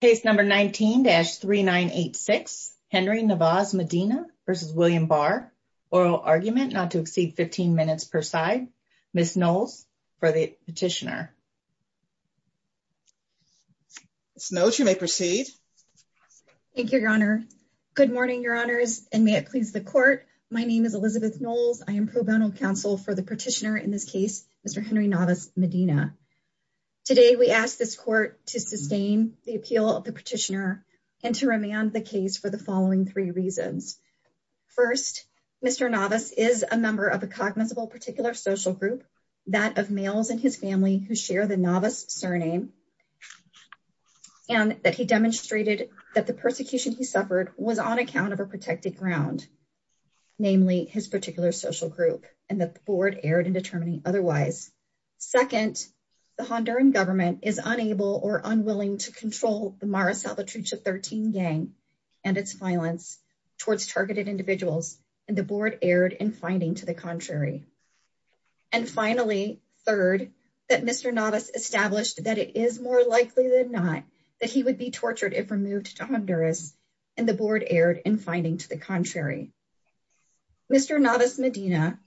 Case No. 19-3986 Henry Navas-Medina v. William Barr, oral argument not to exceed 15 minutes per side. Ms. Knowles for the petitioner. Ms. Knowles, you may proceed. Thank you, Your Honor. Good morning, Your Honors, and may it please the Court. My name is Elizabeth Knowles. I am pro bono counsel for the petitioner in this case, Mr. Henry Navas-Medina. Today, we ask this Court to sustain the appeal of the petitioner and to remand the case for the following three reasons. First, Mr. Navas is a member of a cognizable particular social group, that of males in his family who share the Navas surname, and that he demonstrated that the persecution he suffered was on account of a protected ground, namely his particular social group, and that the Board erred in determining otherwise. Second, the Honduran government is unable or unwilling to control the Mara Salvatrucha 13 gang and its violence towards targeted individuals, and the Board erred in finding to the contrary. And finally, third, that Mr. Navas established that it is more likely than not that he would be tortured if removed to Honduras, and the Board erred in finding to the contrary. Mr. Navas-Medina,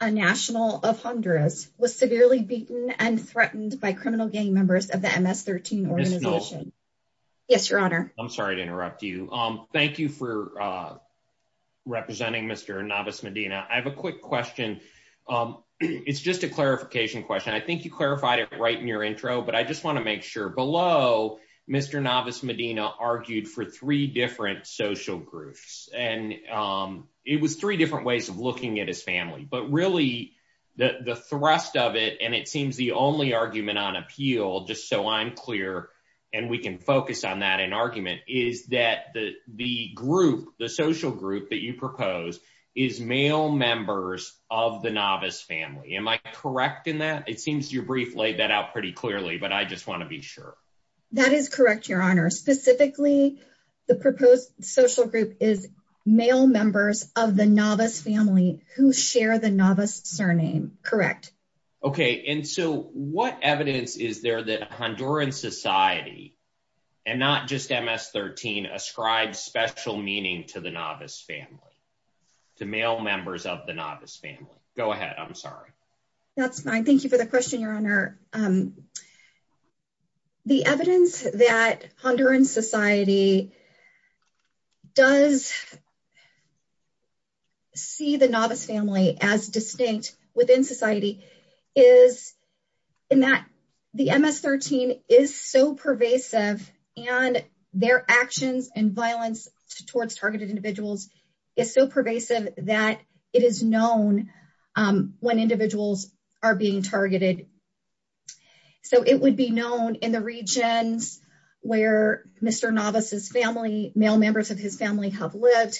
a national of Honduras, was severely beaten and threatened by criminal gang members of the MS-13 organization. Ms. Knowles. Yes, Your Honor. I'm sorry to interrupt you. Thank you for representing Mr. Navas-Medina. I have a quick question. It's just a clarification question. I think you clarified it right in your intro, but I just want to make sure below Mr. Navas-Medina argued for three different social groups, and it was three different ways of looking at his family. But really, the thrust of it, and it seems the only argument on appeal, just so I'm clear, and we can focus on that in argument, is that the group, the social group that you propose, is male members of the Navas family. Am I correct in that? It seems your brief laid that out pretty clearly, but I just want to be sure. That is correct, Your Honor. Specifically, the proposed social group is male members of the Navas family who share the Navas surname. Correct. Okay, and so what evidence is there that Honduran society, and not just MS-13, ascribes special meaning to the Navas family, to male members of the Navas family? Go ahead. I'm sorry. That's fine. Thank you for the question, Your Honor. The evidence that Honduran society does see the Navas family as distinct within society is in that the MS-13 is so pervasive, and their is known when individuals are being targeted. So, it would be known in the regions where Mr. Navas's family, male members of his family, have lived.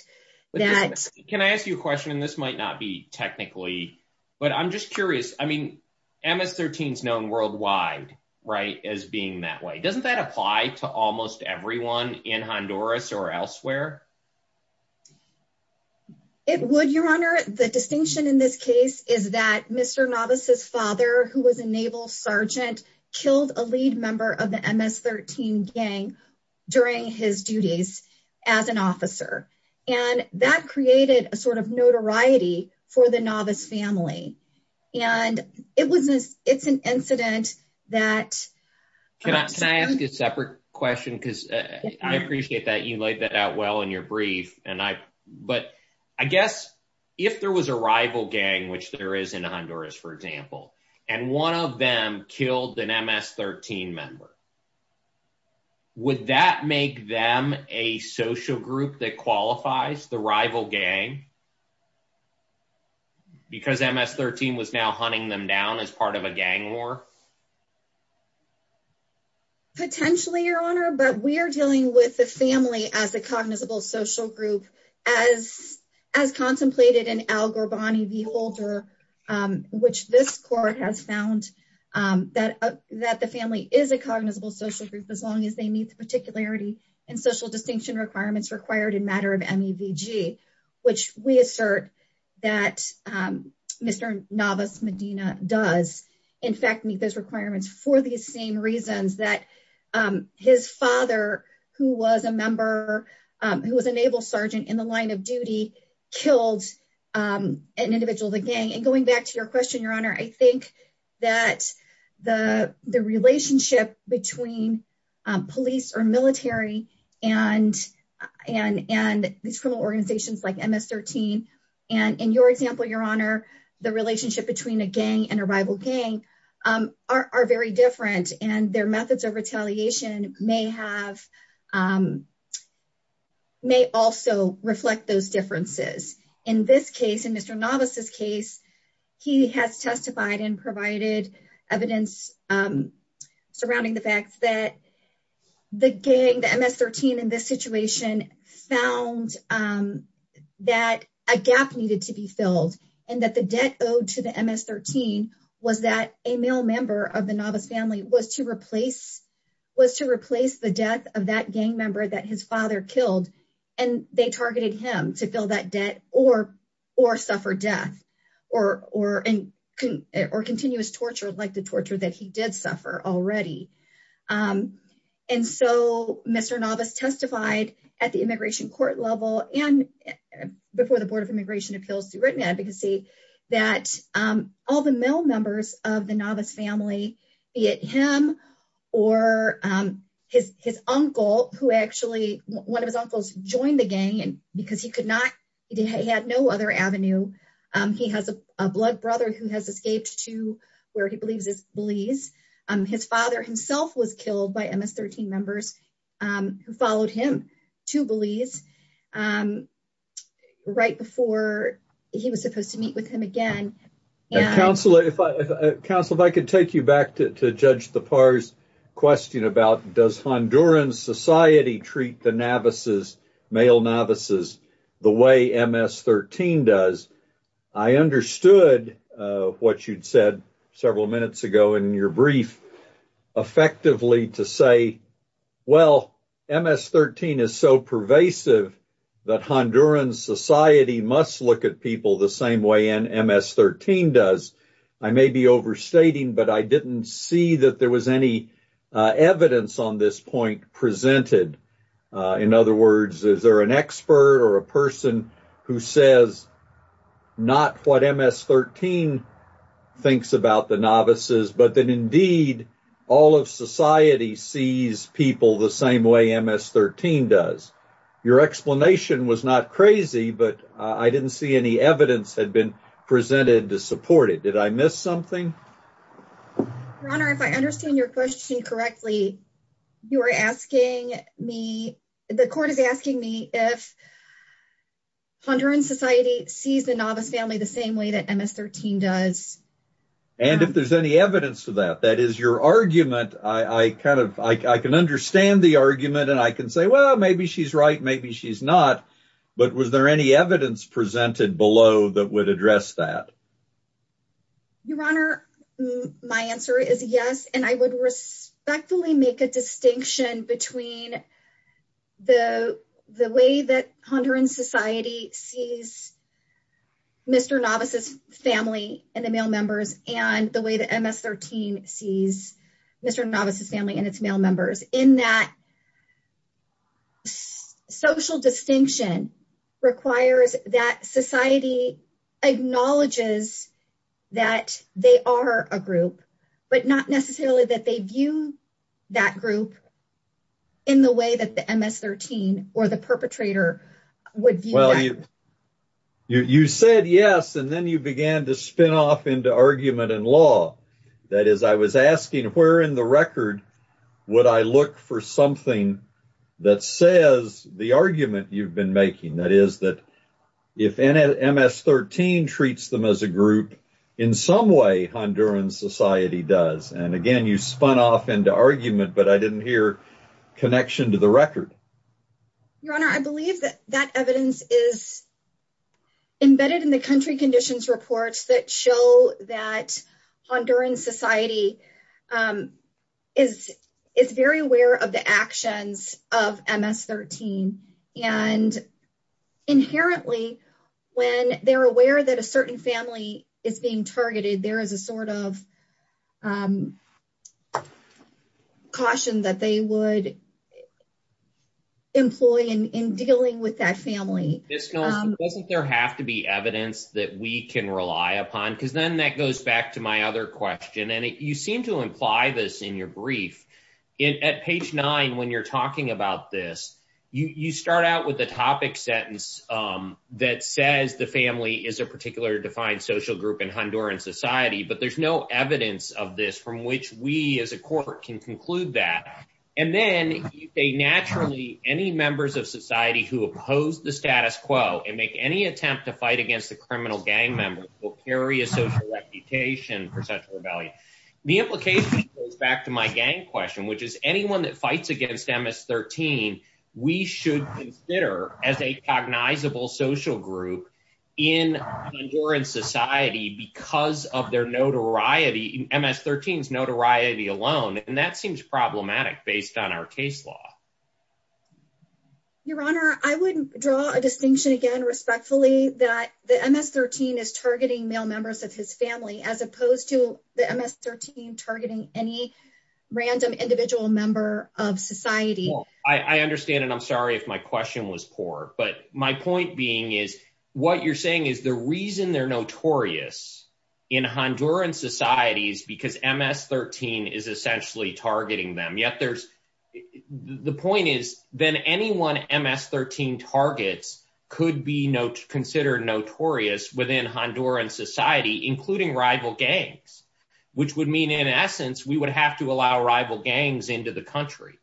Can I ask you a question, and this might not be technically, but I'm just curious. I mean, MS-13 is known worldwide, right, as being that Doesn't that apply to almost everyone in Honduras or elsewhere? It would, Your Honor. The distinction in this case is that Mr. Navas's father, who was a naval sergeant, killed a lead member of the MS-13 gang during his duties as an officer, and that created a sort of notoriety for the Navas family, and it's an incident that Can I ask a separate question? Because I appreciate that you laid that out well in your brief, but I guess if there was a rival gang, which there is in Honduras, for example, and one of them killed an MS-13 member, would that make them a social group that qualifies the rival gang? Because MS-13 was now hunting them down as part of a gang war? Potentially, Your Honor, but we are dealing with the family as a cognizable social group, as contemplated in Al-Gorbani v. Holder, which this court has found that the family is a cognizable social group as long as they meet the particularity and social distinction requirements required in matter of MEVG, which we assert that Mr. Navas Medina does, in fact, meet those requirements for these same reasons that his father, who was a member, who was a naval sergeant in the line of duty, killed an individual of the gang. And going back to your question, Your Honor, I think that the relationship between police or military and these criminal organizations like MS-13, and in your example, Your Honor, the relationship between a gang and a rival gang, are very different, and their methods of retaliation may also reflect those differences. In this case, in Mr. Navas' case, he has testified and provided evidence surrounding the fact that the gang, the MS-13 in this situation, found that a gap needed to be filled, and that the debt owed to the MS-13 was that a male member of the Navas family was to replace the death of that gang member that his father killed, and they targeted him to fill that debt or suffer death, or continuous torture like the torture that he did suffer already. And so Mr. Navas testified at the immigration court level and before the Board of Immigration Appeals through written advocacy, that all the male members of the Navas family, be it him or his uncle, who actually, one of his uncles joined the gang because he could not, he had no other avenue. He has a blood brother who has escaped to where he believes is Belize. His father himself was killed by MS-13 members who followed him to Belize right before he was supposed to meet with him again. Counselor, if I could take you back to Judge Thapar's question about does Honduran society treat the Navas' male Navas' the way MS-13 does. I understood what you'd said several minutes ago in your brief, effectively to say, well MS-13 is so pervasive that Honduran society must look at people the same way an MS-13 does. I may be overstating, but I didn't see that there was any evidence on this point presented. In other words, is there an expert or a person who says not what MS-13 thinks about the Navas' but that indeed all of society sees people the same way MS-13 does. Your explanation was not crazy, but I didn't see any evidence had been presented to support it. Did I miss something? Your Honor, if I understand your question correctly, you are asking me, the court is asking me if Honduran society sees the Navas' family the same way that MS-13 does. And if there's any evidence to that, that is your argument. I kind of understand the argument and I can say, well, maybe she's right, maybe she's not. But was there any evidence presented below that would address that? Your Honor, my answer is yes. And I would respectfully make a distinction between the way that Honduran society sees Mr. Navas' family and the male members and the way that MS-13 sees Mr. Navas' family and its male members. In that, social distinction requires that society acknowledges that they are a group, but not necessarily that they view that group in the way that the MS-13 or the perpetrator would view. You said yes, and then you began to spin off into argument and law. That is, I was asking, where in the record would I look for something that says the argument you've been making? That is that if MS-13 treats them as a group, in some way Honduran society does. And again, you spun off into argument, but I didn't hear connection to the record. Your Honor, I believe that that evidence is embedded in the country conditions reports that show that Honduran society is very aware of the actions of MS-13. And inherently, when they're aware that a certain family is being targeted, there is a sort of caution that they would employ in dealing with that family. Doesn't there have to be evidence that we can rely upon? Because then that goes back to my other question, and you seem to imply this in your brief. At page nine, when you're talking about this, you start out with a topic sentence that says the family is a particular defined social group in Honduran society, but there's no evidence of this from which we as a court can conclude that. And then they naturally, any members of society who oppose the status quo and make any attempt to fight against the criminal gang members will carry a social reputation for sexual rebellion. The implication goes back to my gang question, which is anyone that fights against MS-13, we should consider as a cognizable social group in Honduran society because of their notoriety, MS-13's notoriety alone. And that seems problematic based on our case law. Your Honor, I would draw a distinction again respectfully that the MS-13 is targeting male members of his family as opposed to the MS-13 targeting any random individual member of society. I understand and I'm sorry if my question was poor, but my point being is what you're saying is the reason they're notorious in Honduran society is because MS-13 is essentially targeting them. The point is then anyone MS-13 targets could be considered notorious within Honduran society, including rival gangs, which would mean in essence, we would have to allow rival gangs into the country.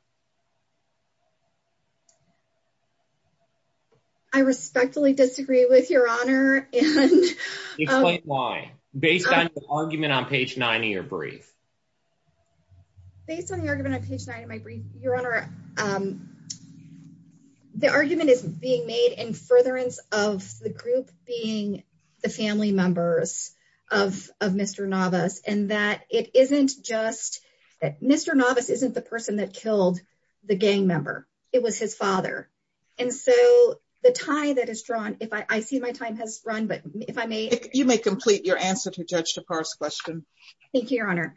I respectfully disagree with Your Honor. Explain why, based on the argument on page nine of your brief. Based on the argument on page nine of my brief, Your Honor, the argument is being made in furtherance of the group being the family members of Mr. Navas and that it isn't just that Mr. Navas isn't the person that killed the gang member, it was his father. And so the tie that is drawn, if I see my time has run, but if I may. You may complete your answer to Judge Tapar's question. Thank you, Your Honor.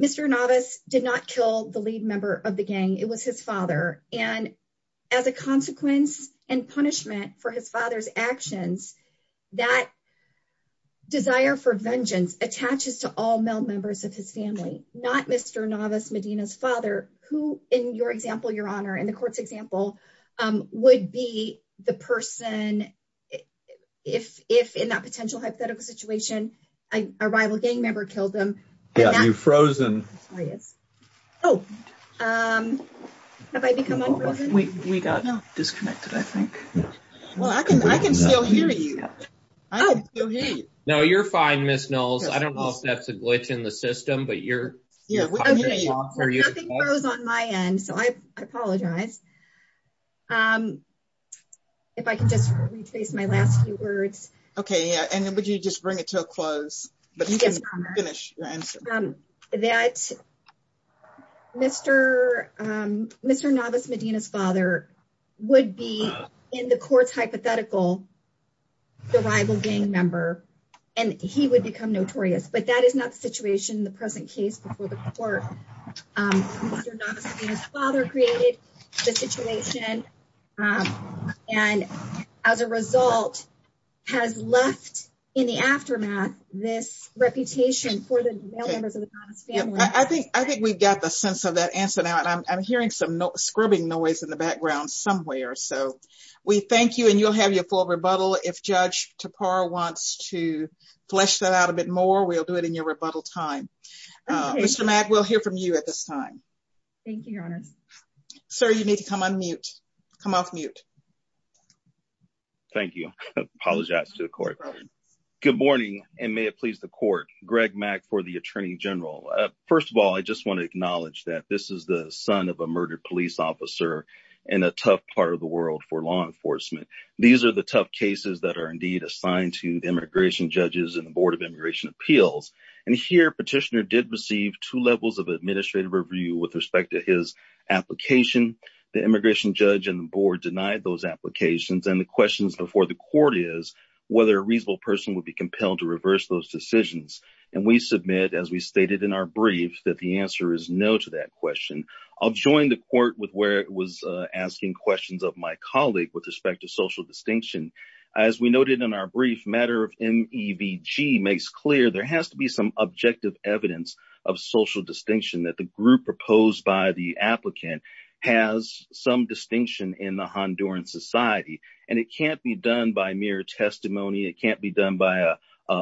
Mr. Navas did not kill the lead member of the gang, it was his father. And as a consequence and punishment for his father's actions, that desire for vengeance attaches to all male members of his family, not Mr. Navas Medina's father, who in your example, Your Honor, in the court's example, would be the person if in that potential hypothetical situation, a rival gang member killed him. Yeah, you've frozen. Oh, have I become unfrozen? We got disconnected, I think. Well, I can still hear you. I can still hear you. No, you're fine, Ms. Knowles. I don't know if that's a glitch in the system, but you're. Yeah, we can hear you. Nothing froze on my end, so I apologize. If I can just rephrase my last few words. Okay, yeah, and then would you just bring it to a close, but you can finish your answer. That Mr. Navas Medina's father would be in the court's hypothetical, the rival gang member, and he would become notorious, but that is not the situation in the present case before the court. Mr. Navas Medina's father created the situation, and as a result, has left in the aftermath this reputation for the male members of the Navas family. I think we've got the sense of that answer now, and I'm hearing some scrubbing noise in the background somewhere, so we thank you, and you'll have your full rebuttal. If Judge Tapar wants to flesh that out a bit more, we'll do it in your rebuttal time. Mr. Mack, we'll hear from you at this time. Thank you, Your Honor. Sir, you need to come on mute. Come off mute. Thank you. I apologize to the court. Good morning, and may it please the court. Greg Mack for the Attorney General. First of all, I just want to acknowledge that this is the son of a murdered police officer in a tough part of the world for law enforcement. These are the tough cases that are indeed assigned to the immigration judges and the Board of Immigration Appeals, and here, Petitioner did receive two levels of administrative review with respect to his application. The immigration judge and the board denied those applications, and the questions before the court is whether a reasonable person would be compelled to reverse those decisions, and we submit, as we stated in our brief, that the answer is no to that question. I'll join the court with where it was asking questions of my colleague with respect to social evidence of social distinction that the group proposed by the applicant has some distinction in the Honduran society, and it can't be done by mere testimony. It can't be done by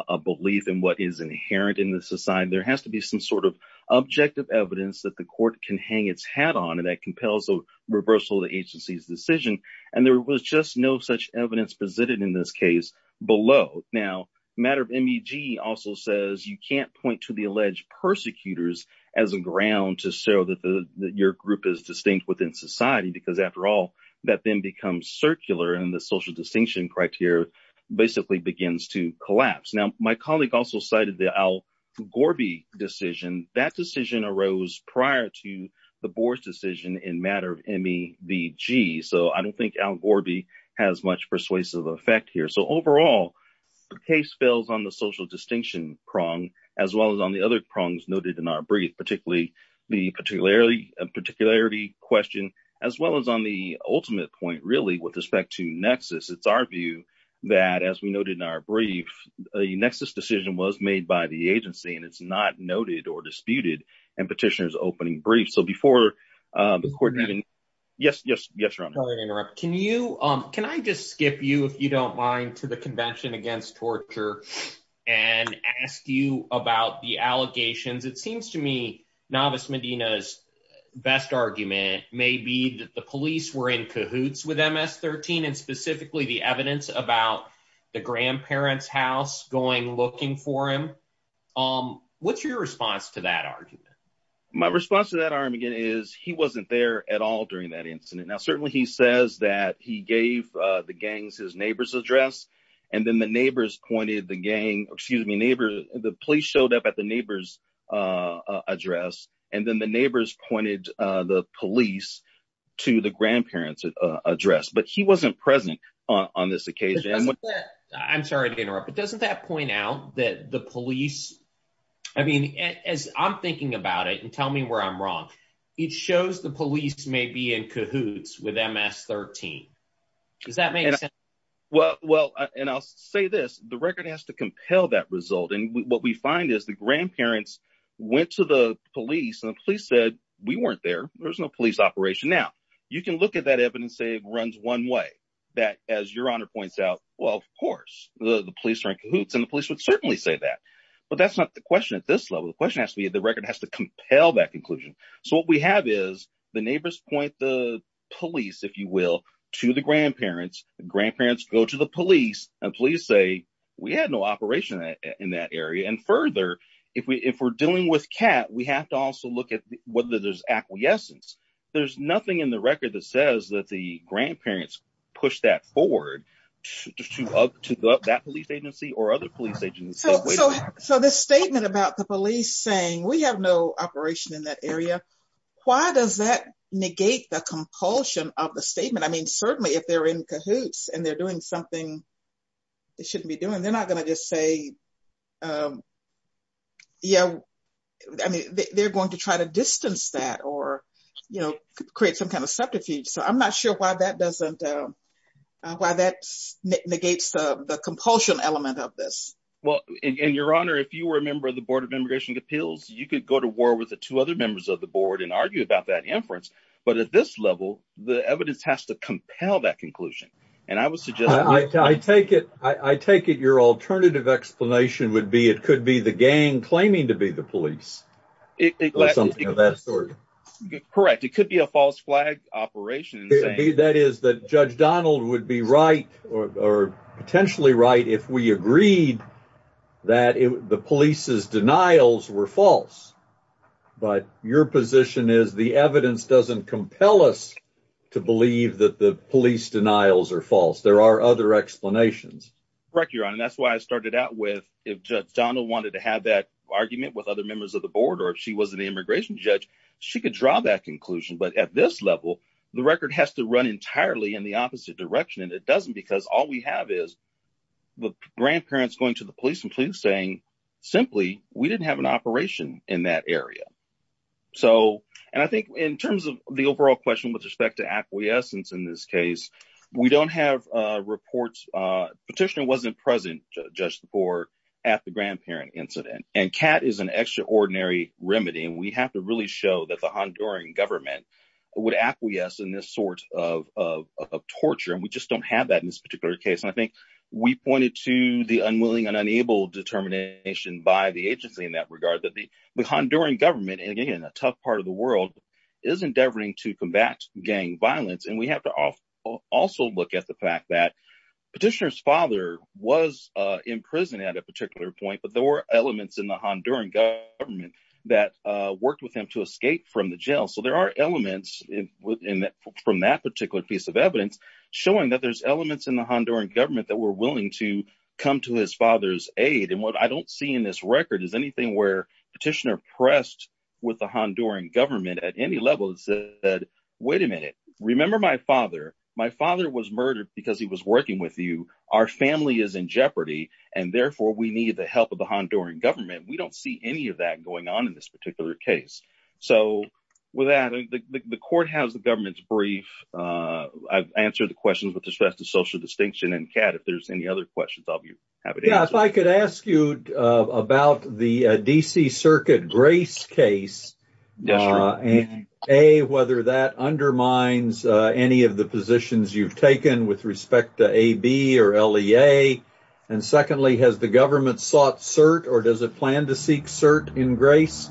a belief in what is inherent in the society. There has to be some sort of objective evidence that the court can hang its hat on, and that compels a reversal of the agency's decision, and there was just no such evidence presented in this case below. Now, the matter of MEVG also says you can't point to the alleged persecutors as a ground to show that your group is distinct within society because, after all, that then becomes circular, and the social distinction criteria basically begins to collapse. Now, my colleague also cited the Al Gorby decision. That decision arose prior to the persuasive effect here, so overall, the case fails on the social distinction prong as well as on the other prongs noted in our brief, particularly the particularity question, as well as on the ultimate point, really, with respect to nexus. It's our view that, as we noted in our brief, a nexus decision was made by the agency, and it's not noted or disputed in petitioner's Can you, can I just skip you, if you don't mind, to the Convention Against Torture and ask you about the allegations? It seems to me Novus Medina's best argument may be that the police were in cahoots with MS-13, and specifically the evidence about the grandparents' house going looking for him. What's your response to that argument? My response to that argument is he wasn't there at all during that incident. Now, certainly he says that he gave the gangs his neighbor's address, and then the neighbors pointed the gang, excuse me, neighbors, the police showed up at the neighbor's address, and then the neighbors pointed the police to the grandparents' address, but he wasn't present on this occasion. I'm sorry to interrupt, but doesn't that point out that the may be in cahoots with MS-13? Does that make sense? Well, and I'll say this, the record has to compel that result, and what we find is the grandparents went to the police, and the police said we weren't there. There was no police operation. Now, you can look at that evidence, say it runs one way, that, as your honor points out, well, of course, the police are in cahoots, and the police would certainly say that, but that's not the question at this level. The question has to be the record has to compel that conclusion, so what we have is the neighbors point the police, if you will, to the grandparents, the grandparents go to the police, and police say we had no operation in that area, and further, if we're dealing with cat, we have to also look at whether there's acquiescence. There's nothing in the record that says that the grandparents pushed that forward to that police agency or other police agencies. So this statement about the police saying we have no operation in that area, why does that negate the compulsion of the statement? I mean, certainly, if they're in cahoots, and they're doing something they shouldn't be doing, they're not going to just say, yeah, I mean, they're going to try to distance that or, you know, create some kind of subterfuge. So I'm not sure why that doesn't, why that negates the compulsion element of this. Well, and your honor, if you were a member of the Board of Immigration Appeals, you could go to war with the two other members of the board and argue about that inference. But at this level, the evidence has to compel that conclusion. And I would suggest I take it, I take it your alternative explanation would be it could be the gang claiming to be the police. Correct. It could be a false flag operation. That is that Judge Donald would be right, or potentially right if we agreed that the police's denials were false. But your position is the evidence doesn't compel us to believe that the police denials are false. There are other explanations. Correct, your honor. That's why I started out with if Judge Donald wanted to have that argument with other members of the board, or if she was an immigration judge, she could draw that conclusion. But at this level, the record has to run entirely in the grandparents. All we have is the grandparents going to the police and police saying, simply, we didn't have an operation in that area. So, and I think in terms of the overall question with respect to acquiescence in this case, we don't have reports. Petitioner wasn't present, Judge, the board at the grandparent incident. And cat is an extraordinary remedy. And we have to really show that the Honduran government would acquiesce in this sort of torture. And we just have that in this particular case. And I think we pointed to the unwilling and unable determination by the agency in that regard, that the Honduran government, and again, a tough part of the world, is endeavoring to combat gang violence. And we have to also look at the fact that petitioner's father was in prison at a particular point, but there were elements in the Honduran government that worked with him to escape from the jail. So there are elements from that particular piece of evidence showing that there's elements in the Honduran government that were willing to come to his father's aid. And what I don't see in this record is anything where petitioner pressed with the Honduran government at any level that said, wait a minute, remember my father, my father was murdered because he was working with you. Our family is in jeopardy. And therefore, we need the help of the Honduran government. We don't see any of that going on in this particular case. So with that, the court has the government's brief. I've answered the questions with respect to social distinction. And Cat, if there's any other questions, I'll be happy to answer. Yeah, if I could ask you about the D.C. Circuit Grace case. A, whether that undermines any of the positions you've taken with respect to A.B. or L.E.A. And secondly, has the government sought cert or does it plan to seek cert in Grace?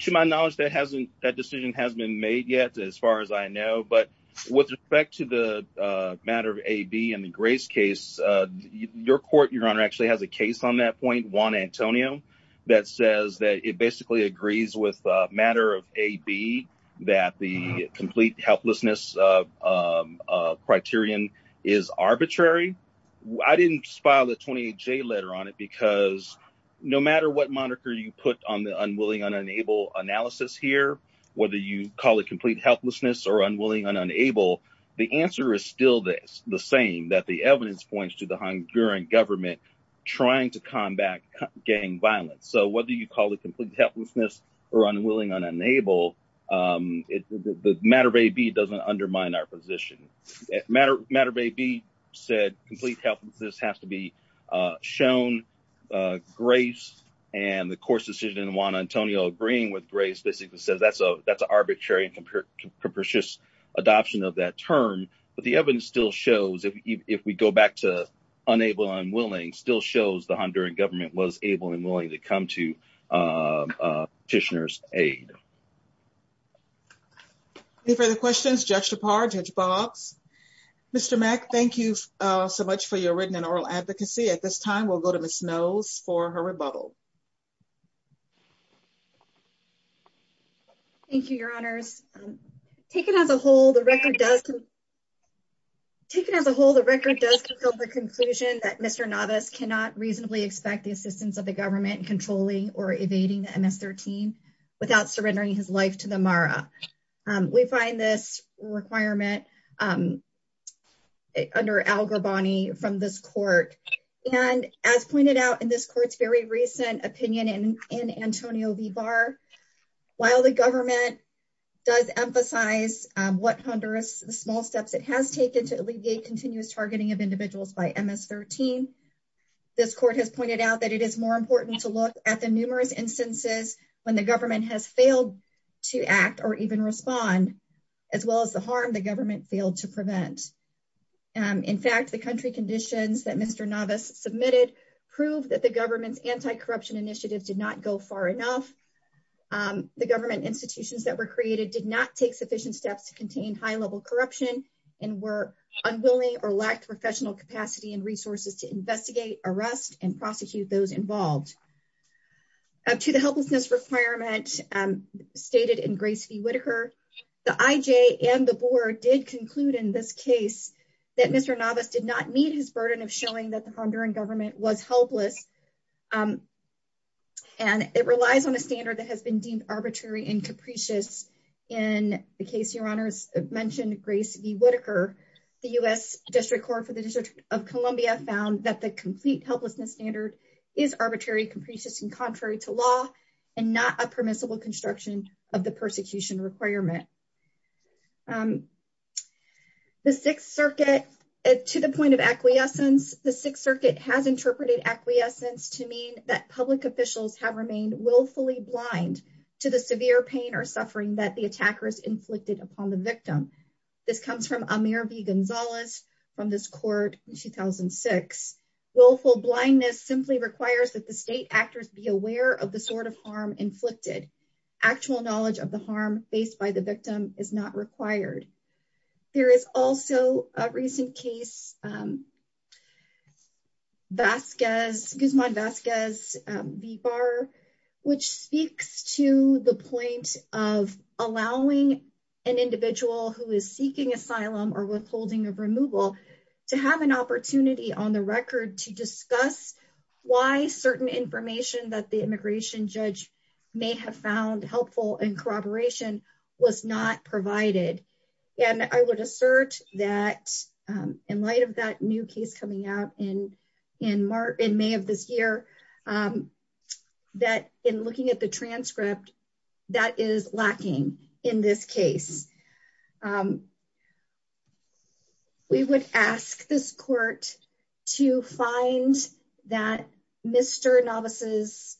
To my knowledge, that hasn't that decision has been made yet, as far as I know. But with respect to the matter of A.B. and the Grace case, your court, your honor, actually has a case on that point, Juan Antonio, that says that it basically agrees with the matter of A.B. that the complete helplessness criterion is arbitrary. I didn't file a 28-J letter on it because no matter what moniker you put on the unwilling, unenable analysis here, whether you call it complete helplessness or unwilling, unenable, the answer is still this, the same, that the evidence points to the Honduran government trying to combat gang violence. So whether you call it complete helplessness or unwilling, unenable, the matter of A.B. doesn't undermine our position. Matter of A.B. said complete helplessness has to be shown. Grace and the court's decision in Juan Antonio agreeing with Grace basically says that's an arbitrary and capricious adoption of that term. But the evidence still shows, if we go back to unable, unwilling, still shows the Honduran willing to come to petitioner's aid. Any further questions? Judge Dupar, Judge Boggs, Mr. Mack, thank you so much for your written and oral advocacy. At this time, we'll go to Ms. Nose for her rebuttal. Thank you, your honors. Taken as a whole, the record does, taken as a whole, the record does confirm the conclusion that Mr. Navas cannot reasonably expect the assistance of the government controlling or evading the MS-13 without surrendering his life to the MARA. We find this requirement under Al Garbani from this court. And as pointed out in this court's very recent opinion in Antonio V. Barr, while the government does emphasize what Honduras, the small steps it has taken to alleviate continuous targeting of that it is more important to look at the numerous instances when the government has failed to act or even respond, as well as the harm the government failed to prevent. In fact, the country conditions that Mr. Navas submitted proved that the government's anti-corruption initiatives did not go far enough. The government institutions that were created did not take sufficient steps to contain high-level corruption and were unwilling or lacked professional capacity and resources to those involved. To the helplessness requirement stated in Grace V. Whitaker, the IJ and the board did conclude in this case that Mr. Navas did not meet his burden of showing that the Honduran government was helpless. And it relies on a standard that has been deemed arbitrary and capricious. In the case, your honors mentioned Grace V. Whitaker, the U.S. District Court for is arbitrary, capricious and contrary to law and not a permissible construction of the persecution requirement. The Sixth Circuit, to the point of acquiescence, the Sixth Circuit has interpreted acquiescence to mean that public officials have remained willfully blind to the severe pain or suffering that the attackers inflicted upon the victim. This comes from Amir V. Gonzalez from this court in 2006. Willful blindness simply requires that the state actors be aware of the sort of harm inflicted. Actual knowledge of the harm faced by the victim is not required. There is also a recent case, Guzman Vasquez V. Barr, which speaks to the point of allowing an individual who is seeking asylum or withholding of removal to have an opportunity on the record to discuss why certain information that the immigration judge may have found helpful in corroboration was not provided. And I would assert that in light of that in May of this year, that in looking at the transcript, that is lacking in this case. We would ask this court to find that Mr. Navas'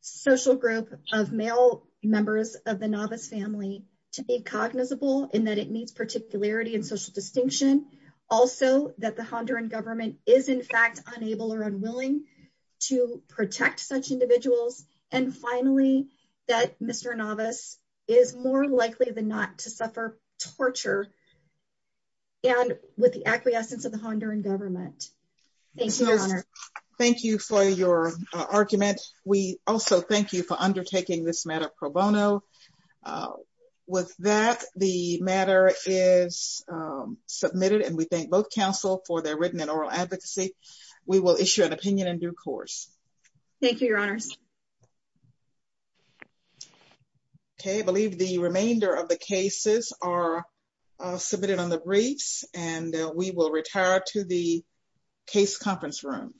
social group of male members of the Navas family to be cognizable and that it meets particularity and social distinction. Also, that the Honduran government is in fact unable or unwilling to protect such individuals. And finally, that Mr. Navas is more likely than not to suffer torture and with the acquiescence of the Honduran government. Thank you, Your Honor. Thank you for your argument. We also thank you for with that. The matter is submitted and we thank both counsel for their written and oral advocacy. We will issue an opinion in due course. Thank you, Your Honors. Okay, I believe the remainder of the cases are submitted on the briefs and we will retire to the case conference room.